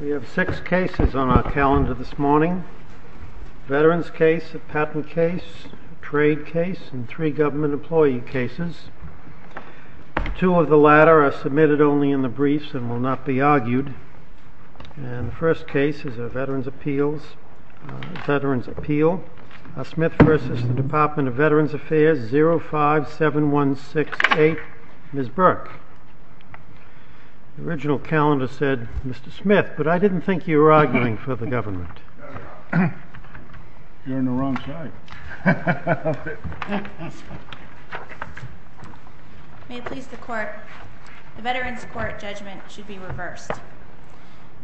We have six cases on our calendar this morning. Veterans case, a patent case, a trade case, and three government employee cases. Two of the latter are submitted only in the briefs and will not be argued. The first case is a Veterans Appeal. Smith v. Department of Veterans Affairs, 057168, Ms. Burke. The original calendar said Mr. Smith, but I didn't think you were arguing for the government. You're on the wrong side. May it please the Court, the Veterans Court judgment should be reversed.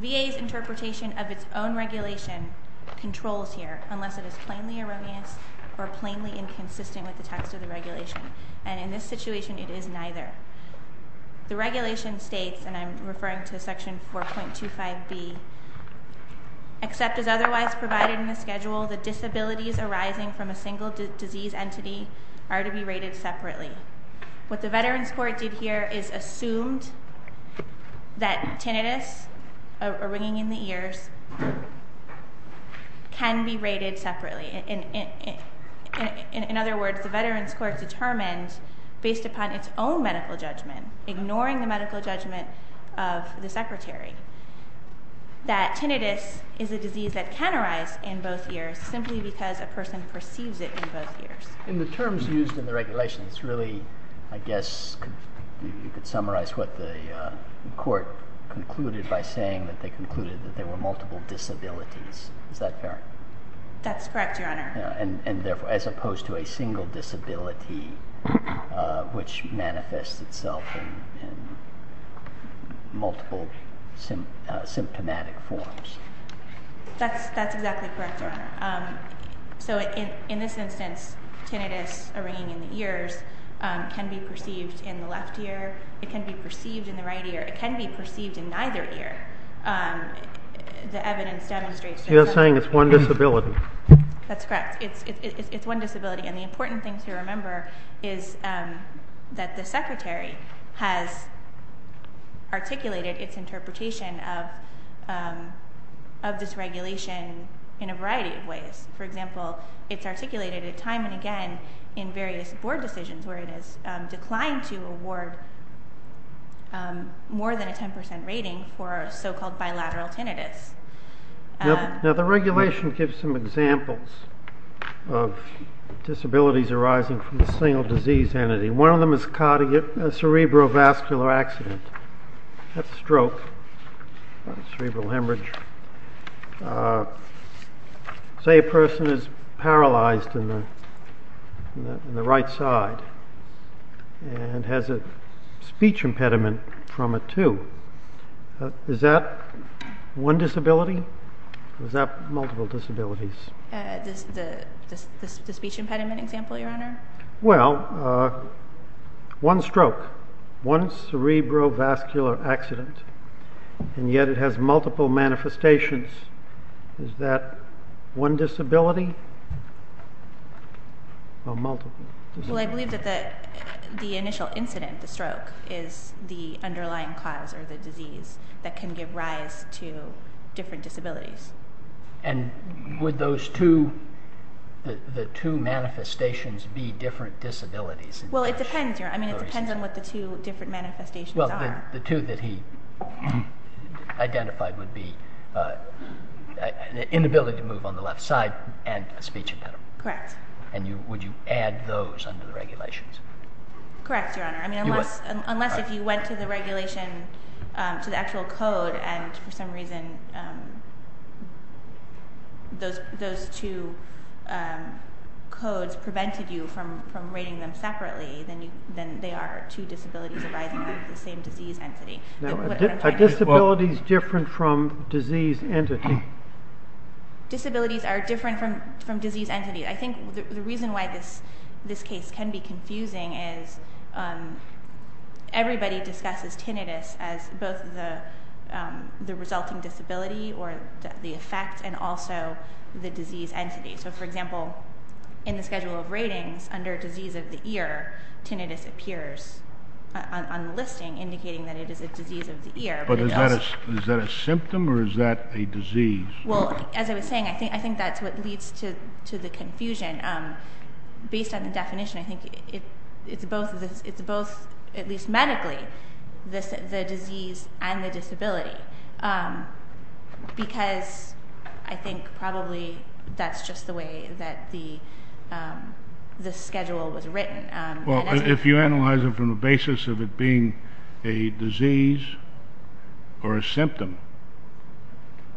VA's interpretation of its own regulation controls here, unless it is plainly erroneous or plainly inconsistent with the text of the regulation. And in this situation, it is neither. The regulation states, and I'm referring to Section 4.25b, except as otherwise provided in the schedule, the disabilities arising from a single disease entity are to be rated separately. What the Veterans Court did here is assumed that tinnitus, a ringing in the ears, can be rated separately. In other words, the Veterans Court determined, based upon its own medical judgment, ignoring the medical judgment of the Secretary, that tinnitus is a disease that can arise in both ears simply because a person perceives it in both ears. In the terms used in the regulation, it's really, I guess, you could summarize what the Court concluded by saying that they concluded that there were multiple disabilities. Is that fair? That's correct, Your Honor. And therefore, as opposed to a single disability, which manifests itself in multiple symptomatic forms. That's exactly correct, Your Honor. So, in this instance, tinnitus, a ringing in the ears, can be perceived in the left ear. It can be perceived in the right ear. It can be perceived in neither ear. The evidence demonstrates that both ears. You're saying it's one disability. That's correct. It's one disability. And the important thing to remember is that the Secretary has articulated its interpretation of this regulation in a variety of ways. For example, it's articulated time and again in various board decisions where it is declined to award more than a 10% rating for so-called bilateral tinnitus. Now, the regulation gives some examples of disabilities arising from a single disease entity. One of them is a cerebrovascular accident. That's a stroke, cerebral hemorrhage. Say a person is paralyzed in the right side and has a speech impediment from a tube. Is that one disability or is that multiple disabilities? The speech impediment example, Your Honor. Well, one stroke, one cerebrovascular accident, and yet it has multiple manifestations. Is that one disability or multiple disabilities? Well, I believe that the initial incident, the stroke, is the underlying cause or the disease that can give rise to different disabilities. And would the two manifestations be different disabilities? Well, it depends, Your Honor. I mean, it depends on what the two different manifestations are. Well, the two that he identified would be an inability to move on the left side and a speech impediment. Correct. And would you add those under the regulations? Correct, Your Honor. I mean, unless if you went to the regulation, to the actual code, and for some reason those two codes prevented you from rating them separately, then they are two disabilities arising from the same disease entity. Are disabilities different from disease entity? Disabilities are different from disease entity. I think the reason why this case can be confusing is everybody discusses tinnitus as both the resulting disability or the effect and also the disease entity. So, for example, in the schedule of ratings under disease of the ear, tinnitus appears on the listing indicating that it is a disease of the ear. But is that a symptom or is that a disease? Well, as I was saying, I think that's what leads to the confusion. Based on the definition, I think it's both, at least medically, the disease and the disability because I think probably that's just the way that the schedule was written. Well, if you analyze it from the basis of it being a disease or a symptom,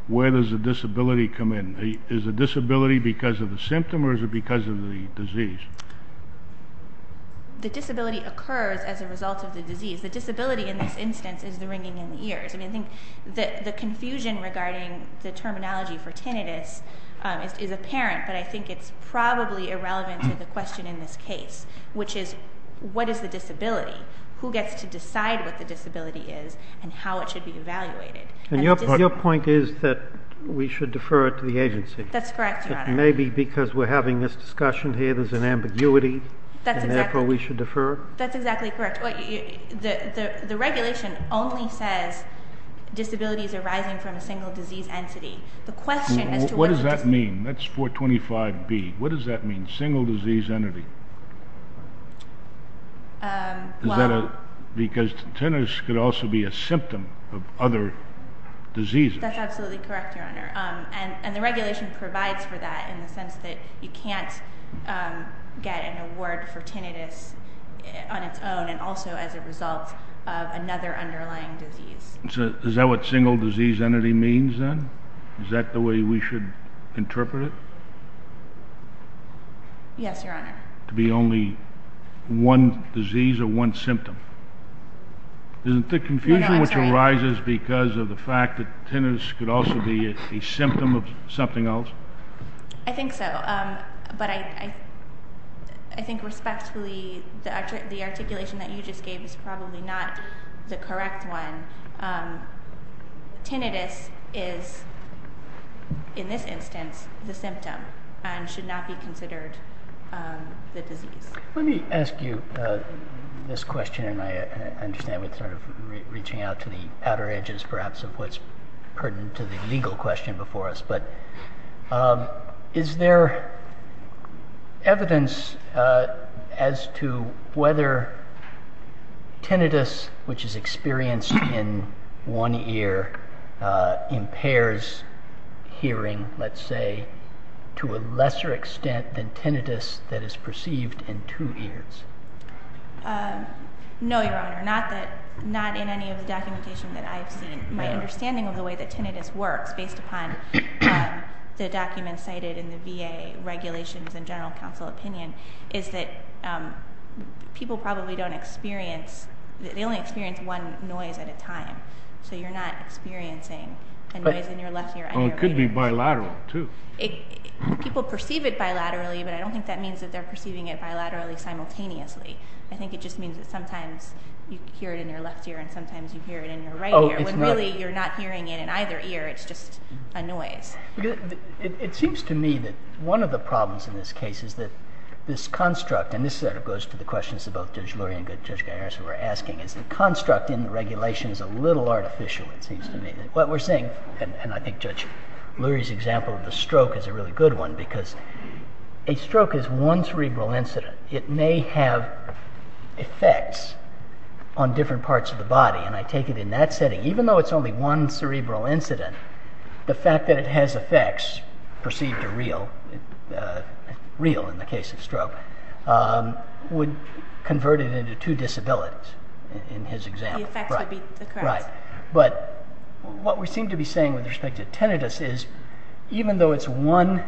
where does the disability come in? Is the disability because of the symptom or is it because of the disease? The disability occurs as a result of the disease. The disability in this instance is the ringing in the ears. I mean, I think the confusion regarding the terminology for tinnitus is apparent, but I think it's probably irrelevant to the question in this case, which is what is the disability? Who gets to decide what the disability is and how it should be evaluated? And your point is that we should defer it to the agency. That's correct, Your Honor. Maybe because we're having this discussion here, there's an ambiguity, and therefore we should defer it? That's exactly correct. The regulation only says disabilities arising from a single disease entity. What does that mean? That's 425B. What does that mean, single disease entity? Because tinnitus could also be a symptom of other diseases. That's absolutely correct, Your Honor, and the regulation provides for that in the sense that you can't get an award for tinnitus on its own and also as a result of another underlying disease. Is that what single disease entity means, then? Is that the way we should interpret it? Yes, Your Honor. To be only one disease or one symptom. Isn't the confusion which arises because of the fact that tinnitus could also be a symptom of something else? I think so, but I think respectfully the articulation that you just gave is probably not the correct one. Tinnitus is, in this instance, the symptom and should not be considered the disease. Let me ask you this question, and I understand we're sort of reaching out to the outer edges perhaps of what's pertinent to the legal question before us, but is there evidence as to whether tinnitus, which is experienced in one ear, impairs hearing, let's say, to a lesser extent than tinnitus that is perceived in two ears? No, Your Honor, not in any of the documentation that I've seen. My understanding of the way that tinnitus works, based upon the documents cited in the VA regulations and general counsel opinion, is that people probably don't experience, they only experience one noise at a time, so you're not experiencing a noise in your left ear. Well, it could be bilateral, too. People perceive it bilaterally, but I don't think that means that they're perceiving it bilaterally simultaneously. I think it just means that sometimes you hear it in your left ear and sometimes you hear it in your right ear. When really you're not hearing it in either ear, it's just a noise. It seems to me that one of the problems in this case is that this construct, and this sort of goes to the questions that both Judge Lurie and Judge Gaiares were asking, is the construct in the regulations a little artificial, it seems to me. What we're saying, and I think Judge Lurie's example of the stroke is a really good one, because a stroke is one cerebral incident. It may have effects on different parts of the body, and I take it in that setting. Even though it's only one cerebral incident, the fact that it has effects, perceived or real, real in the case of stroke, would convert it into two disabilities in his example. The effects would be the correct. But what we seem to be saying with respect to tinnitus is, even though it's one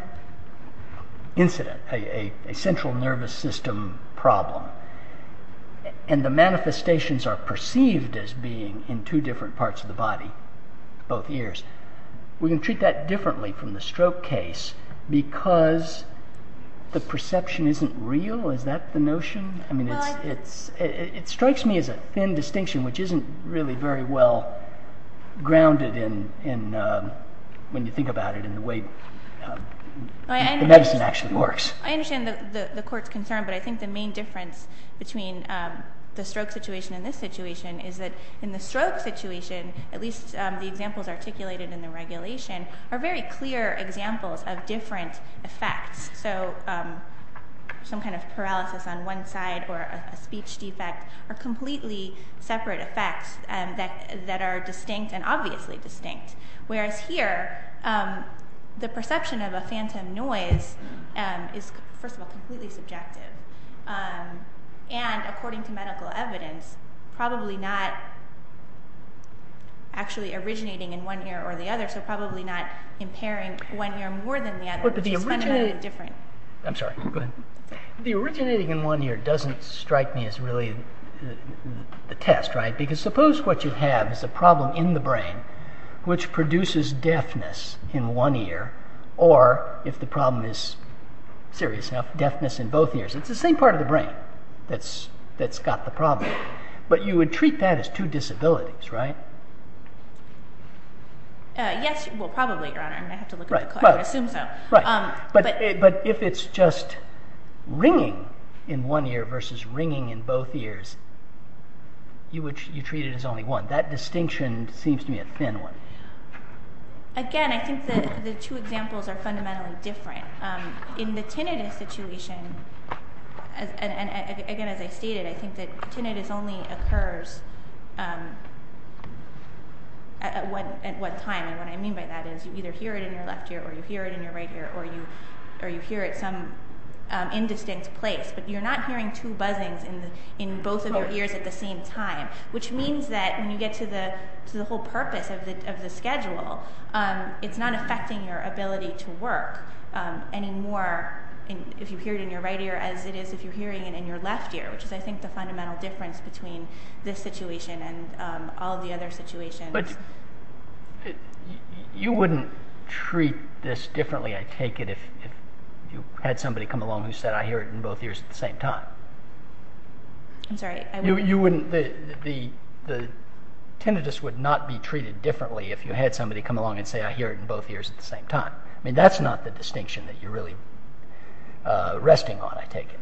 incident, a central nervous system problem, and the manifestations are perceived as being in two different parts of the body, both ears, we can treat that differently from the stroke case because the perception isn't real, is that the notion? It strikes me as a thin distinction which isn't really very well grounded when you think about it in the way the medicine actually works. I understand the court's concern, but I think the main difference between the stroke situation and this situation is that in the stroke situation, at least the examples articulated in the regulation, are very clear examples of different effects. So some kind of paralysis on one side or a speech defect are completely separate effects that are distinct and obviously distinct. Whereas here, the perception of a phantom noise is, first of all, completely subjective. And according to medical evidence, probably not actually originating in one ear or the other, so probably not impairing one ear more than the other, which is fundamentally different. I'm sorry, go ahead. The originating in one ear doesn't strike me as really the test, right? Because suppose what you have is a problem in the brain which produces deafness in one ear or, if the problem is serious enough, deafness in both ears. It's the same part of the brain that's got the problem. But you would treat that as two disabilities, right? Yes, well, probably, Your Honor. I would assume so. But if it's just ringing in one ear versus ringing in both ears, you treat it as only one. That distinction seems to be a thin one. Again, I think the two examples are fundamentally different. In the tinnitus situation, again, as I stated, I think that tinnitus only occurs at one time. And what I mean by that is you either hear it in your left ear or you hear it in your right ear or you hear it some indistinct place. But you're not hearing two buzzings in both of your ears at the same time, which means that when you get to the whole purpose of the schedule, it's not affecting your ability to work any more if you hear it in your right ear as it is if you're hearing it in your left ear, which is, I think, the fundamental difference between this situation and all the other situations. But you wouldn't treat this differently, I take it, if you had somebody come along who said, I hear it in both ears at the same time. I'm sorry? The tinnitus would not be treated differently if you had somebody come along and say, I hear it in both ears at the same time. I mean, that's not the distinction that you're really resting on, I take it.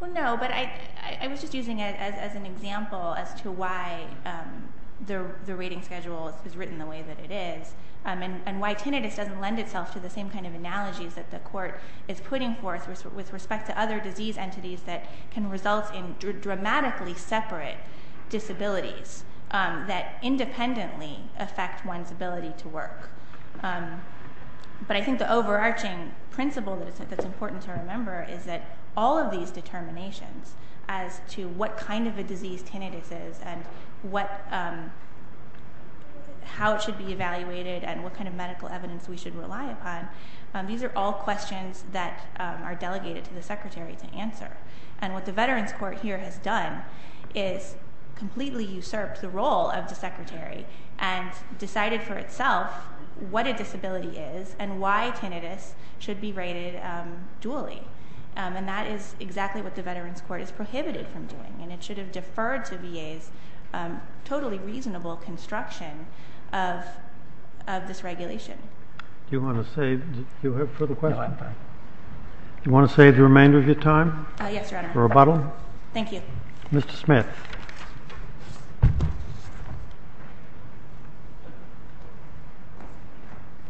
Well, no, but I was just using it as an example as to why the rating schedule is written the way that it is and why tinnitus doesn't lend itself to the same kind of analogies that the court is putting forth with respect to other disease entities that can result in dramatically separate disabilities that independently affect one's ability to work. But I think the overarching principle that's important to remember is that all of these determinations as to what kind of a disease tinnitus is and how it should be evaluated and what kind of medical evidence we should rely upon, these are all questions that are delegated to the secretary to answer. And what the Veterans Court here has done is completely usurped the role of the secretary and decided for itself what a disability is and why tinnitus should be rated dually. And that is exactly what the Veterans Court is prohibited from doing. And it should have deferred to VA's totally reasonable construction of this regulation. Do you want to save the remainder of your time? Yes, Your Honor. For rebuttal? Thank you. Mr. Smith.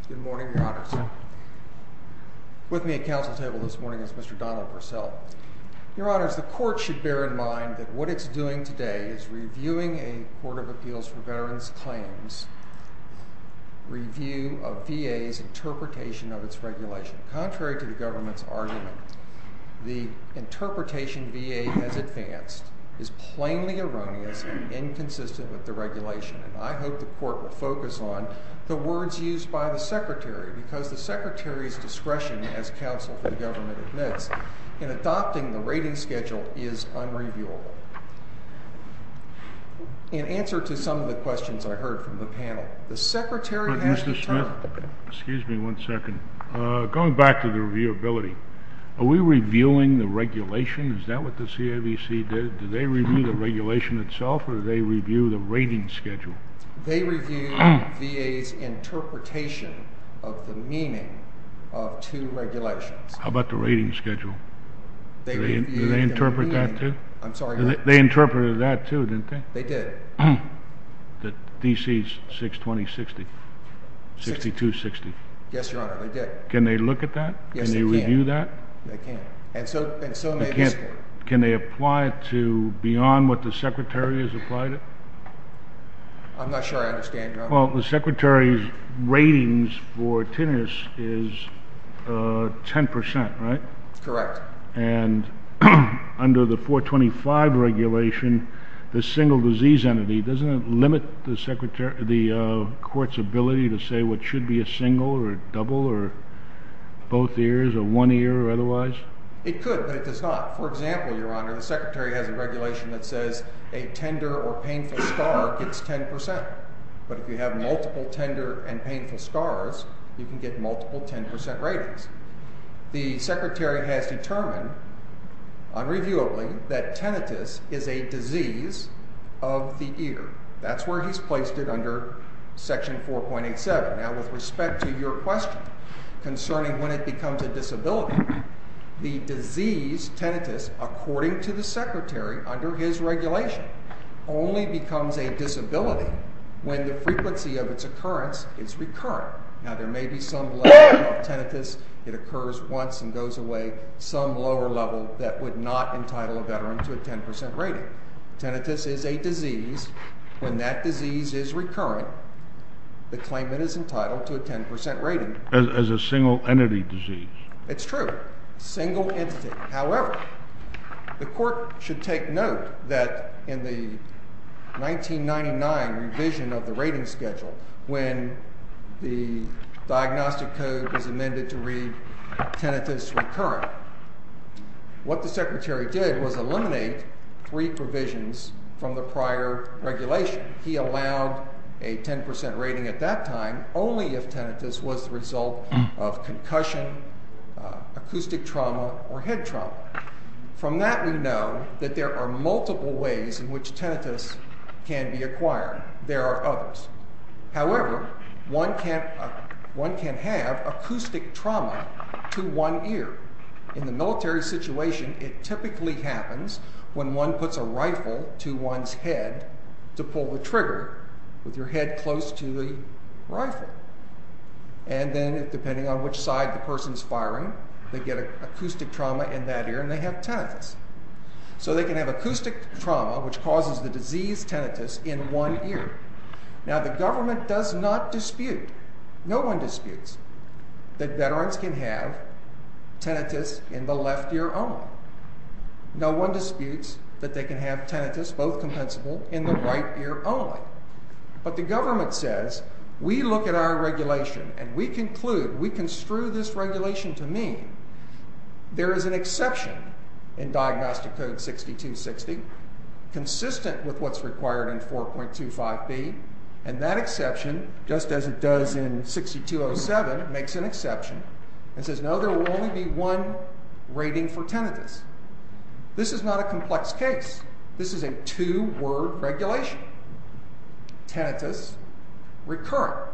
Good morning, Your Honors. With me at council table this morning is Mr. Donald Purcell. Your Honors, the court should bear in mind that what it's doing today is reviewing a Court of Appeals for Veterans Claims review of VA's interpretation of its regulation. Contrary to the government's argument, the interpretation VA has advanced is plainly erroneous and inconsistent with the regulation. And I hope the court will focus on the words used by the secretary because the secretary's discretion as counsel for the government admits in adopting the rating schedule is unreviewable. In answer to some of the questions I heard from the panel, the secretary has the time. Mr. Smith, excuse me one second. Going back to the reviewability, are we reviewing the regulation? Is that what the CAVC did? Did they review the regulation itself or did they review the rating schedule? They reviewed VA's interpretation of the meaning of two regulations. How about the rating schedule? Did they interpret that too? I'm sorry, Your Honor. They interpreted that too, didn't they? They did. The D.C.'s 620-60, 62-60. Yes, Your Honor, they did. Can they look at that? Yes, they can. Can they review that? They can. And so may the expert. Can they apply it to beyond what the secretary has applied it? I'm not sure I understand, Your Honor. Well, the secretary's ratings for tinnitus is 10%, right? Correct. And under the 425 regulation, the single disease entity, doesn't it limit the court's ability to say what should be a single or a double or both ears or one ear or otherwise? It could, but it does not. For example, Your Honor, the secretary has a regulation that says a tender or painful scar gets 10%. But if you have multiple tender and painful scars, you can get multiple 10% ratings. The secretary has determined, unreviewably, that tinnitus is a disease of the ear. That's where he's placed it under Section 4.87. Now, with respect to your question concerning when it becomes a disability, the disease tinnitus, according to the secretary under his regulation, only becomes a disability when the frequency of its occurrence is recurrent. Now, there may be some level of tinnitus. It occurs once and goes away, some lower level that would not entitle a veteran to a 10% rating. Tinnitus is a disease. When that disease is recurrent, the claimant is entitled to a 10% rating. As a single entity disease. It's true. Single entity. However, the court should take note that in the 1999 revision of the rating schedule, when the diagnostic code was amended to read tinnitus recurrent, what the secretary did was eliminate three provisions from the prior regulation. He allowed a 10% rating at that time only if tinnitus was the result of concussion, acoustic trauma, or head trauma. From that we know that there are multiple ways in which tinnitus can be acquired. There are others. However, one can have acoustic trauma to one ear. In the military situation, it typically happens when one puts a rifle to one's head to pull the trigger with your head close to the rifle. And then depending on which side the person is firing, they get acoustic trauma in that ear and they have tinnitus. So they can have acoustic trauma, which causes the disease tinnitus, in one ear. Now the government does not dispute, no one disputes, that veterans can have tinnitus in the left ear only. No one disputes that they can have tinnitus, both compensable, in the right ear only. But the government says, we look at our regulation and we conclude, we construe this regulation to mean there is an exception in Diagnostic Code 6260 consistent with what's required in 4.25b, and that exception, just as it does in 6207, makes an exception and says, no, there will only be one rating for tinnitus. This is not a complex case. This is a two-word regulation. Tinnitus recurrent.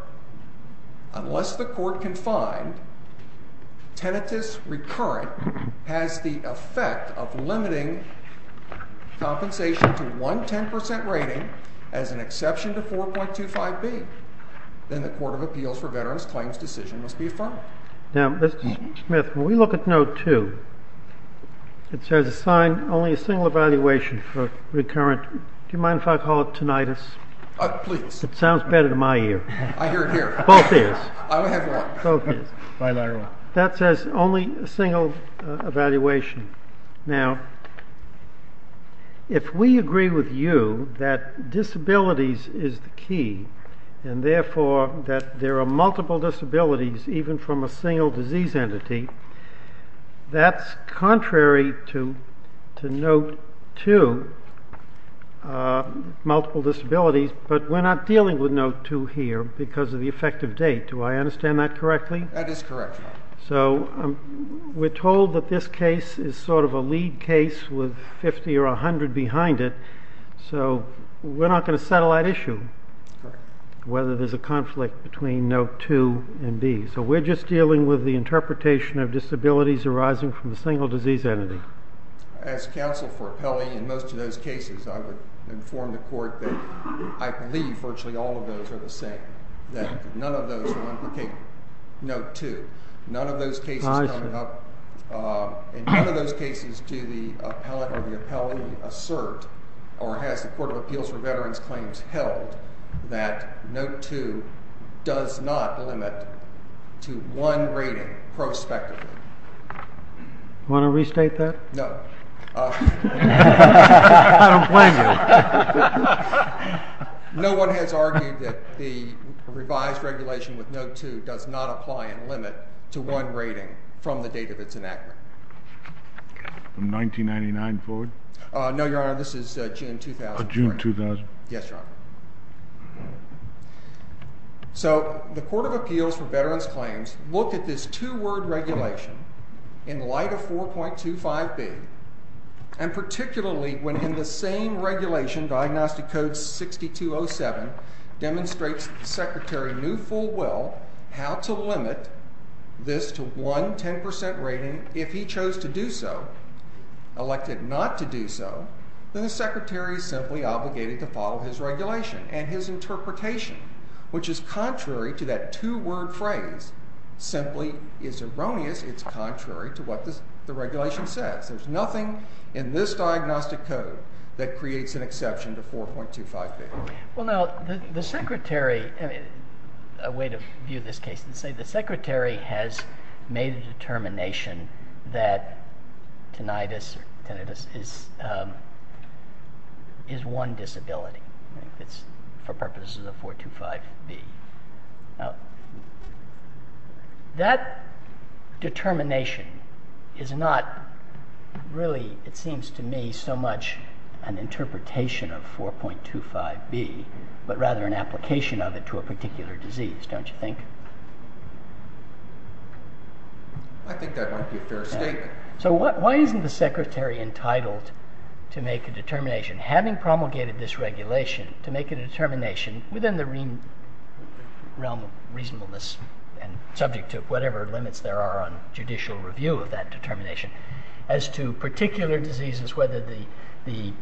Unless the court can find tinnitus recurrent has the effect of limiting compensation to one 10% rating as an exception to 4.25b, then the Court of Appeals for Veterans Claims Decision must be affirmed. Now, Mr. Smith, when we look at Note 2, it says assign only a single evaluation for recurrent, do you mind if I call it tinnitus? Please. It sounds better to my ear. I hear it here. Both ears. I only have one. Both ears. Fine, I have one. That says only a single evaluation. Now, if we agree with you that disabilities is the key and therefore that there are multiple disabilities even from a single disease entity, that's contrary to Note 2, multiple disabilities, but we're not dealing with Note 2 here because of the effective date. Do I understand that correctly? That is correct. So we're told that this case is sort of a lead case with 50 or 100 behind it, so we're not going to settle that issue, whether there's a conflict between Note 2 and B. So we're just dealing with the interpretation of disabilities arising from a single disease entity. As counsel for appellee in most of those cases, I would inform the Court that I believe virtually all of those are the same, that none of those are unproven. Note 2, none of those cases come up. In none of those cases do the appellate or the appellee assert or has the Court of Appeals for Veterans Claims held that Note 2 does not limit to one rating prospectively. Want to restate that? No. I don't blame you. No one has argued that the revised regulation with Note 2 does not apply and limit to one rating from the date of its enactment. From 1999 forward? No, Your Honor, this is June 2000. June 2000. Yes, Your Honor. So the Court of Appeals for Veterans Claims looked at this two-word regulation in light of 4.25B and particularly when in the same regulation, Diagnostic Code 6207, demonstrates that the Secretary knew full well how to limit this to one 10% rating if he chose to do so, elected not to do so, then the Secretary is simply obligated to follow his regulation and his interpretation, which is contrary to that two-word phrase, simply is erroneous. It's contrary to what the regulation says. There's nothing in this diagnostic code that creates an exception to 4.25B. Well, now, the Secretary, a way to view this case, let's say the Secretary has made a determination that tinnitus is one disability for purposes of 4.25B. Now, that determination is not really, it seems to me, so much an interpretation of 4.25B but rather an application of it to a particular disease, don't you think? I think that might be a fair statement. So why isn't the Secretary entitled to make a determination, having promulgated this regulation, to make a determination within the realm of reasonableness and subject to whatever limits there are on judicial review of that determination as to particular diseases, whether the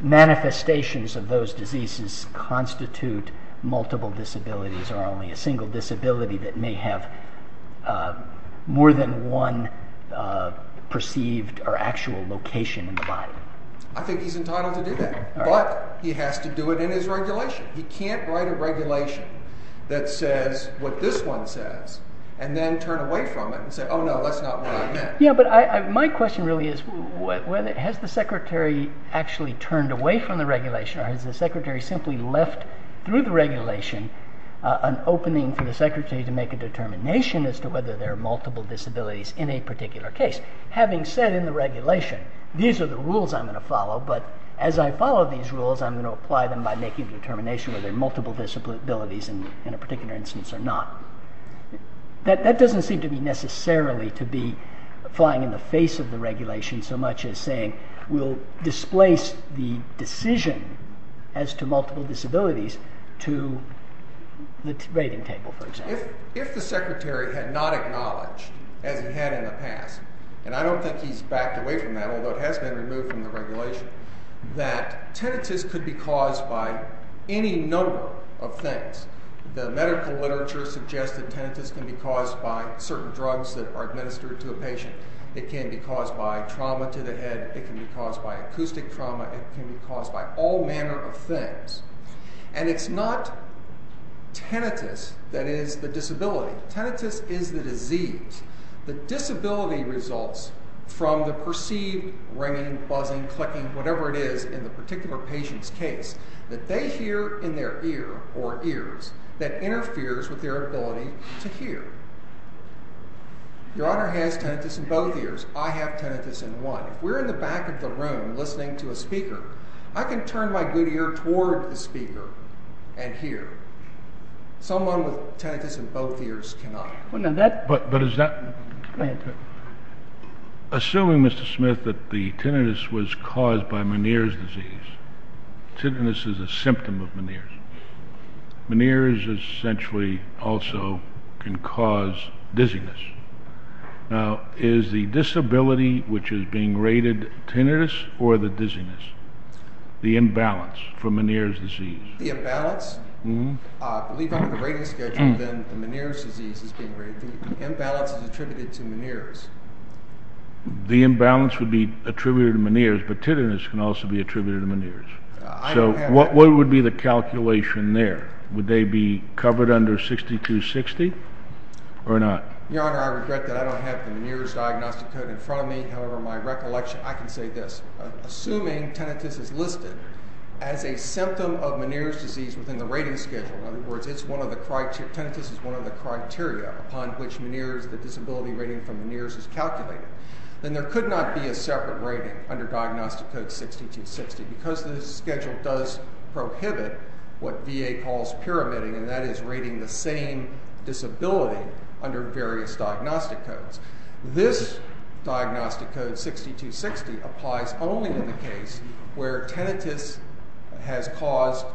manifestations of those diseases constitute multiple disabilities or only a single disability that may have more than one perceived or actual location in the body? I think he's entitled to do that. But he has to do it in his regulation. He can't write a regulation that says what this one says and then turn away from it and say, oh, no, that's not what I meant. Yeah, but my question really is, has the Secretary actually turned away from the regulation or has the Secretary simply left through the regulation an opening for the Secretary to make a determination as to whether there are multiple disabilities in a particular case? Having said in the regulation, these are the rules I'm going to follow, but as I follow these rules, I'm going to apply them by making a determination whether there are multiple disabilities in a particular instance or not. That doesn't seem to be necessarily to be flying in the face of the regulation so much as saying we'll displace the decision as to multiple disabilities to the rating table, for example. If the Secretary had not acknowledged, as he had in the past, and I don't think he's backed away from that, although it has been removed from the regulation, that tinnitus could be caused by any number of things. The medical literature suggests that tinnitus can be caused by certain drugs that are administered to a patient. It can be caused by trauma to the head. It can be caused by acoustic trauma. It can be caused by all manner of things. And it's not tinnitus that is the disability. Tinnitus is the disease. The disability results from the perceived ringing, buzzing, clicking, whatever it is in the particular patient's case that they hear in their ear or ears that interferes with their ability to hear. Your Honor has tinnitus in both ears. I have tinnitus in one. If we're in the back of the room listening to a speaker, I can turn my good ear toward the speaker and hear. Someone with tinnitus in both ears cannot. But is that... Assuming, Mr. Smith, that the tinnitus was caused by Meniere's disease. Tinnitus is a symptom of Meniere's. Meniere's essentially also can cause dizziness. Now, is the disability which is being rated tinnitus or the dizziness, the imbalance for Meniere's disease? The imbalance? I believe under the rating schedule then the Meniere's disease is being rated. The imbalance is attributed to Meniere's. The imbalance would be attributed to Meniere's, but tinnitus can also be attributed to Meniere's. So what would be the calculation there? Would they be covered under 6260 or not? Your Honor, I regret that I don't have the Meniere's diagnostic code in front of me. However, my recollection, I can say this. Assuming tinnitus is listed as a symptom of Meniere's disease within the rating schedule, in other words, it's one of the criteria, tinnitus is one of the criteria upon which Meniere's, the disability rating from Meniere's is calculated, then there could not be a separate rating under diagnostic code 6260 because the schedule does prohibit what VA calls pyramiding, and that is rating the same disability under various diagnostic codes. This diagnostic code 6260 applies only in the case where tinnitus has caused,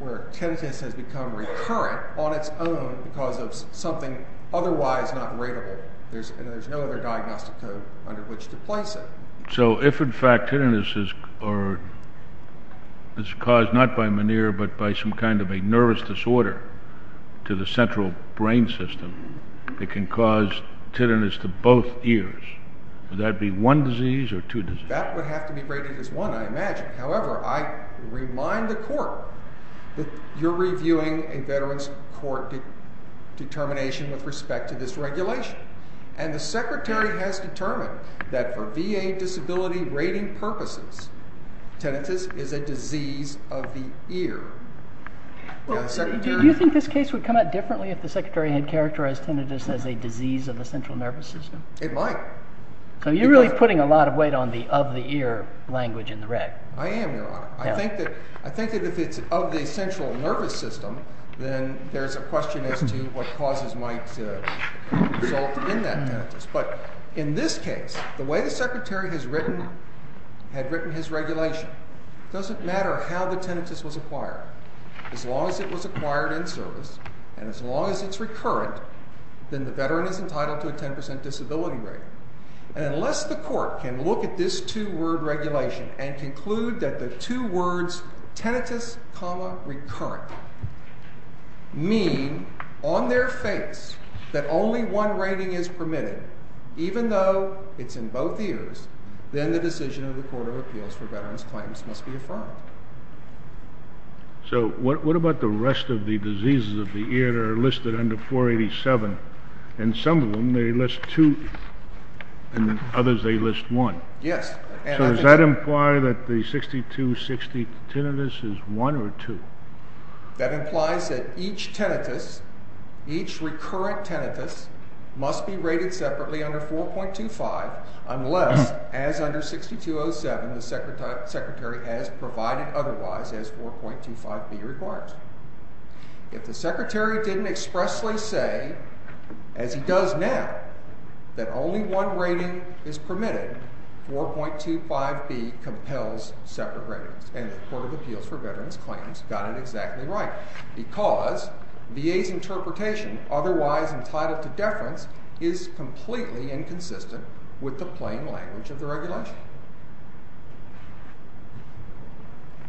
where tinnitus has become recurrent on its own because of something otherwise not ratable. There's no other diagnostic code under which to place it. So if in fact tinnitus is caused not by Meniere but by some kind of a nervous disorder to the central brain system that can cause tinnitus to both ears, would that be one disease or two diseases? That would have to be rated as one, I imagine. However, I remind the Court that you're reviewing a Veterans Court determination with respect to this regulation, and the Secretary has determined that for VA disability rating purposes, tinnitus is a disease of the ear. Do you think this case would come out differently if the Secretary had characterized tinnitus as a disease of the central nervous system? It might. So you're really putting a lot of weight on the of the ear language in the rec. I am, Your Honor. I think that if it's of the central nervous system, then there's a question as to what causes might result in that tinnitus. But in this case, the way the Secretary had written his regulation, it doesn't matter how the tinnitus was acquired. As long as it was acquired in service and as long as it's recurrent, then the Veteran is entitled to a 10% disability rating. Unless the Court can look at this two-word regulation and conclude that the two words tinnitus, recurrent, mean on their face that only one rating is permitted, even though it's in both ears, then the decision of the Court of Appeals for Veterans Claims must be affirmed. So what about the rest of the diseases of the ear that are listed under 487? In some of them they list two and in others they list one. Yes. So does that imply that the 6260 tinnitus is one or two? That implies that each tinnitus, each recurrent tinnitus, must be rated separately under 4.25 unless, as under 6207, the Secretary has provided otherwise as 4.25b requires. If the Secretary didn't expressly say, as he does now, that only one rating is permitted, 4.25b compels separate ratings. And the Court of Appeals for Veterans Claims got it exactly right because VA's interpretation, otherwise entitled to deference, is completely inconsistent with the plain language of the regulation.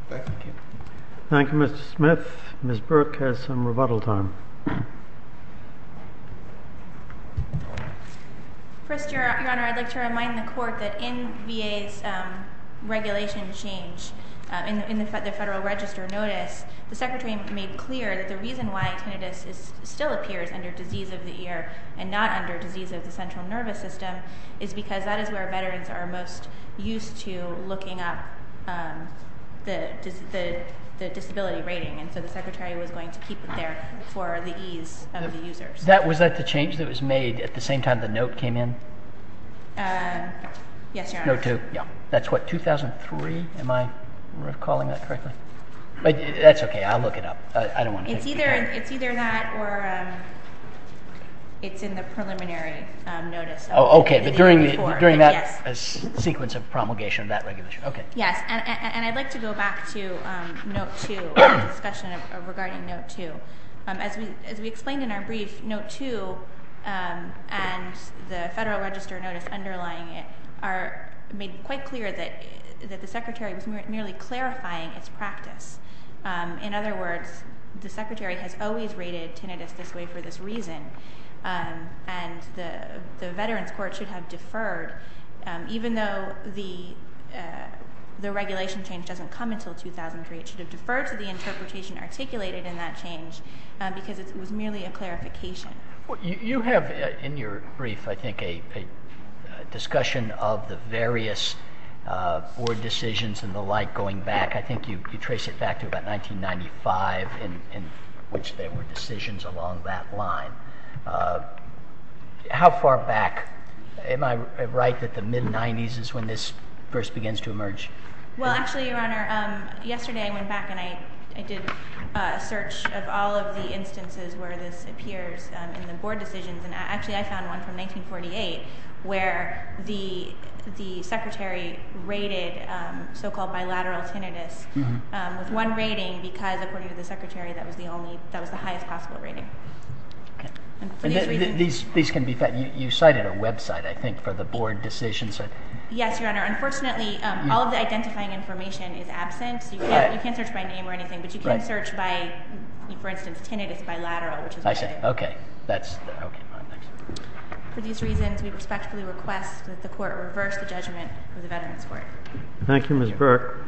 Thank you. Thank you, Mr. Smith. Ms. Burke has some rebuttal time. First, Your Honor, I'd like to remind the Court that in VA's regulation change, in the Federal Register notice, the Secretary made clear that the reason why tinnitus still appears under disease of the ear and not under disease of the central nervous system is because that is where veterans are most used to looking up the disability rating, and so the Secretary was going to keep it there for the ease of the users. Was that the change that was made at the same time the note came in? Yes, Your Honor. That's what, 2003? Am I recalling that correctly? That's okay. I'll look it up. It's either that or it's in the preliminary notice. Okay, but during that sequence of promulgation of that regulation. Yes, and I'd like to go back to note 2, the discussion regarding note 2. As we explained in our brief, note 2 and the Federal Register notice underlying it are made quite clear that the Secretary was merely clarifying its practice. In other words, the Secretary has always rated tinnitus this way for this reason, and the Veterans Court should have deferred. Even though the regulation change doesn't come until 2003, it should have deferred to the interpretation articulated in that change because it was merely a clarification. You have in your brief, I think, a discussion of the various board decisions and the like going back. I think you trace it back to about 1995 in which there were decisions along that line. How far back? Am I right that the mid-90s is when this first begins to emerge? Well, actually, Your Honor, yesterday I went back and I did a search of all of the instances where this appears in the board decisions. Actually, I found one from 1948 where the Secretary rated so-called bilateral tinnitus with one rating because, according to the Secretary, that was the highest possible rating. These can be found. You cited a website, I think, for the board decisions. Yes, Your Honor. Unfortunately, all of the identifying information is absent. You can't search by name or anything, but you can search by, for instance, tinnitus bilateral. I see. OK. For these reasons, we respectfully request that the Court reverse the judgment of the Veterans Court. Thank you, Ms. Burke.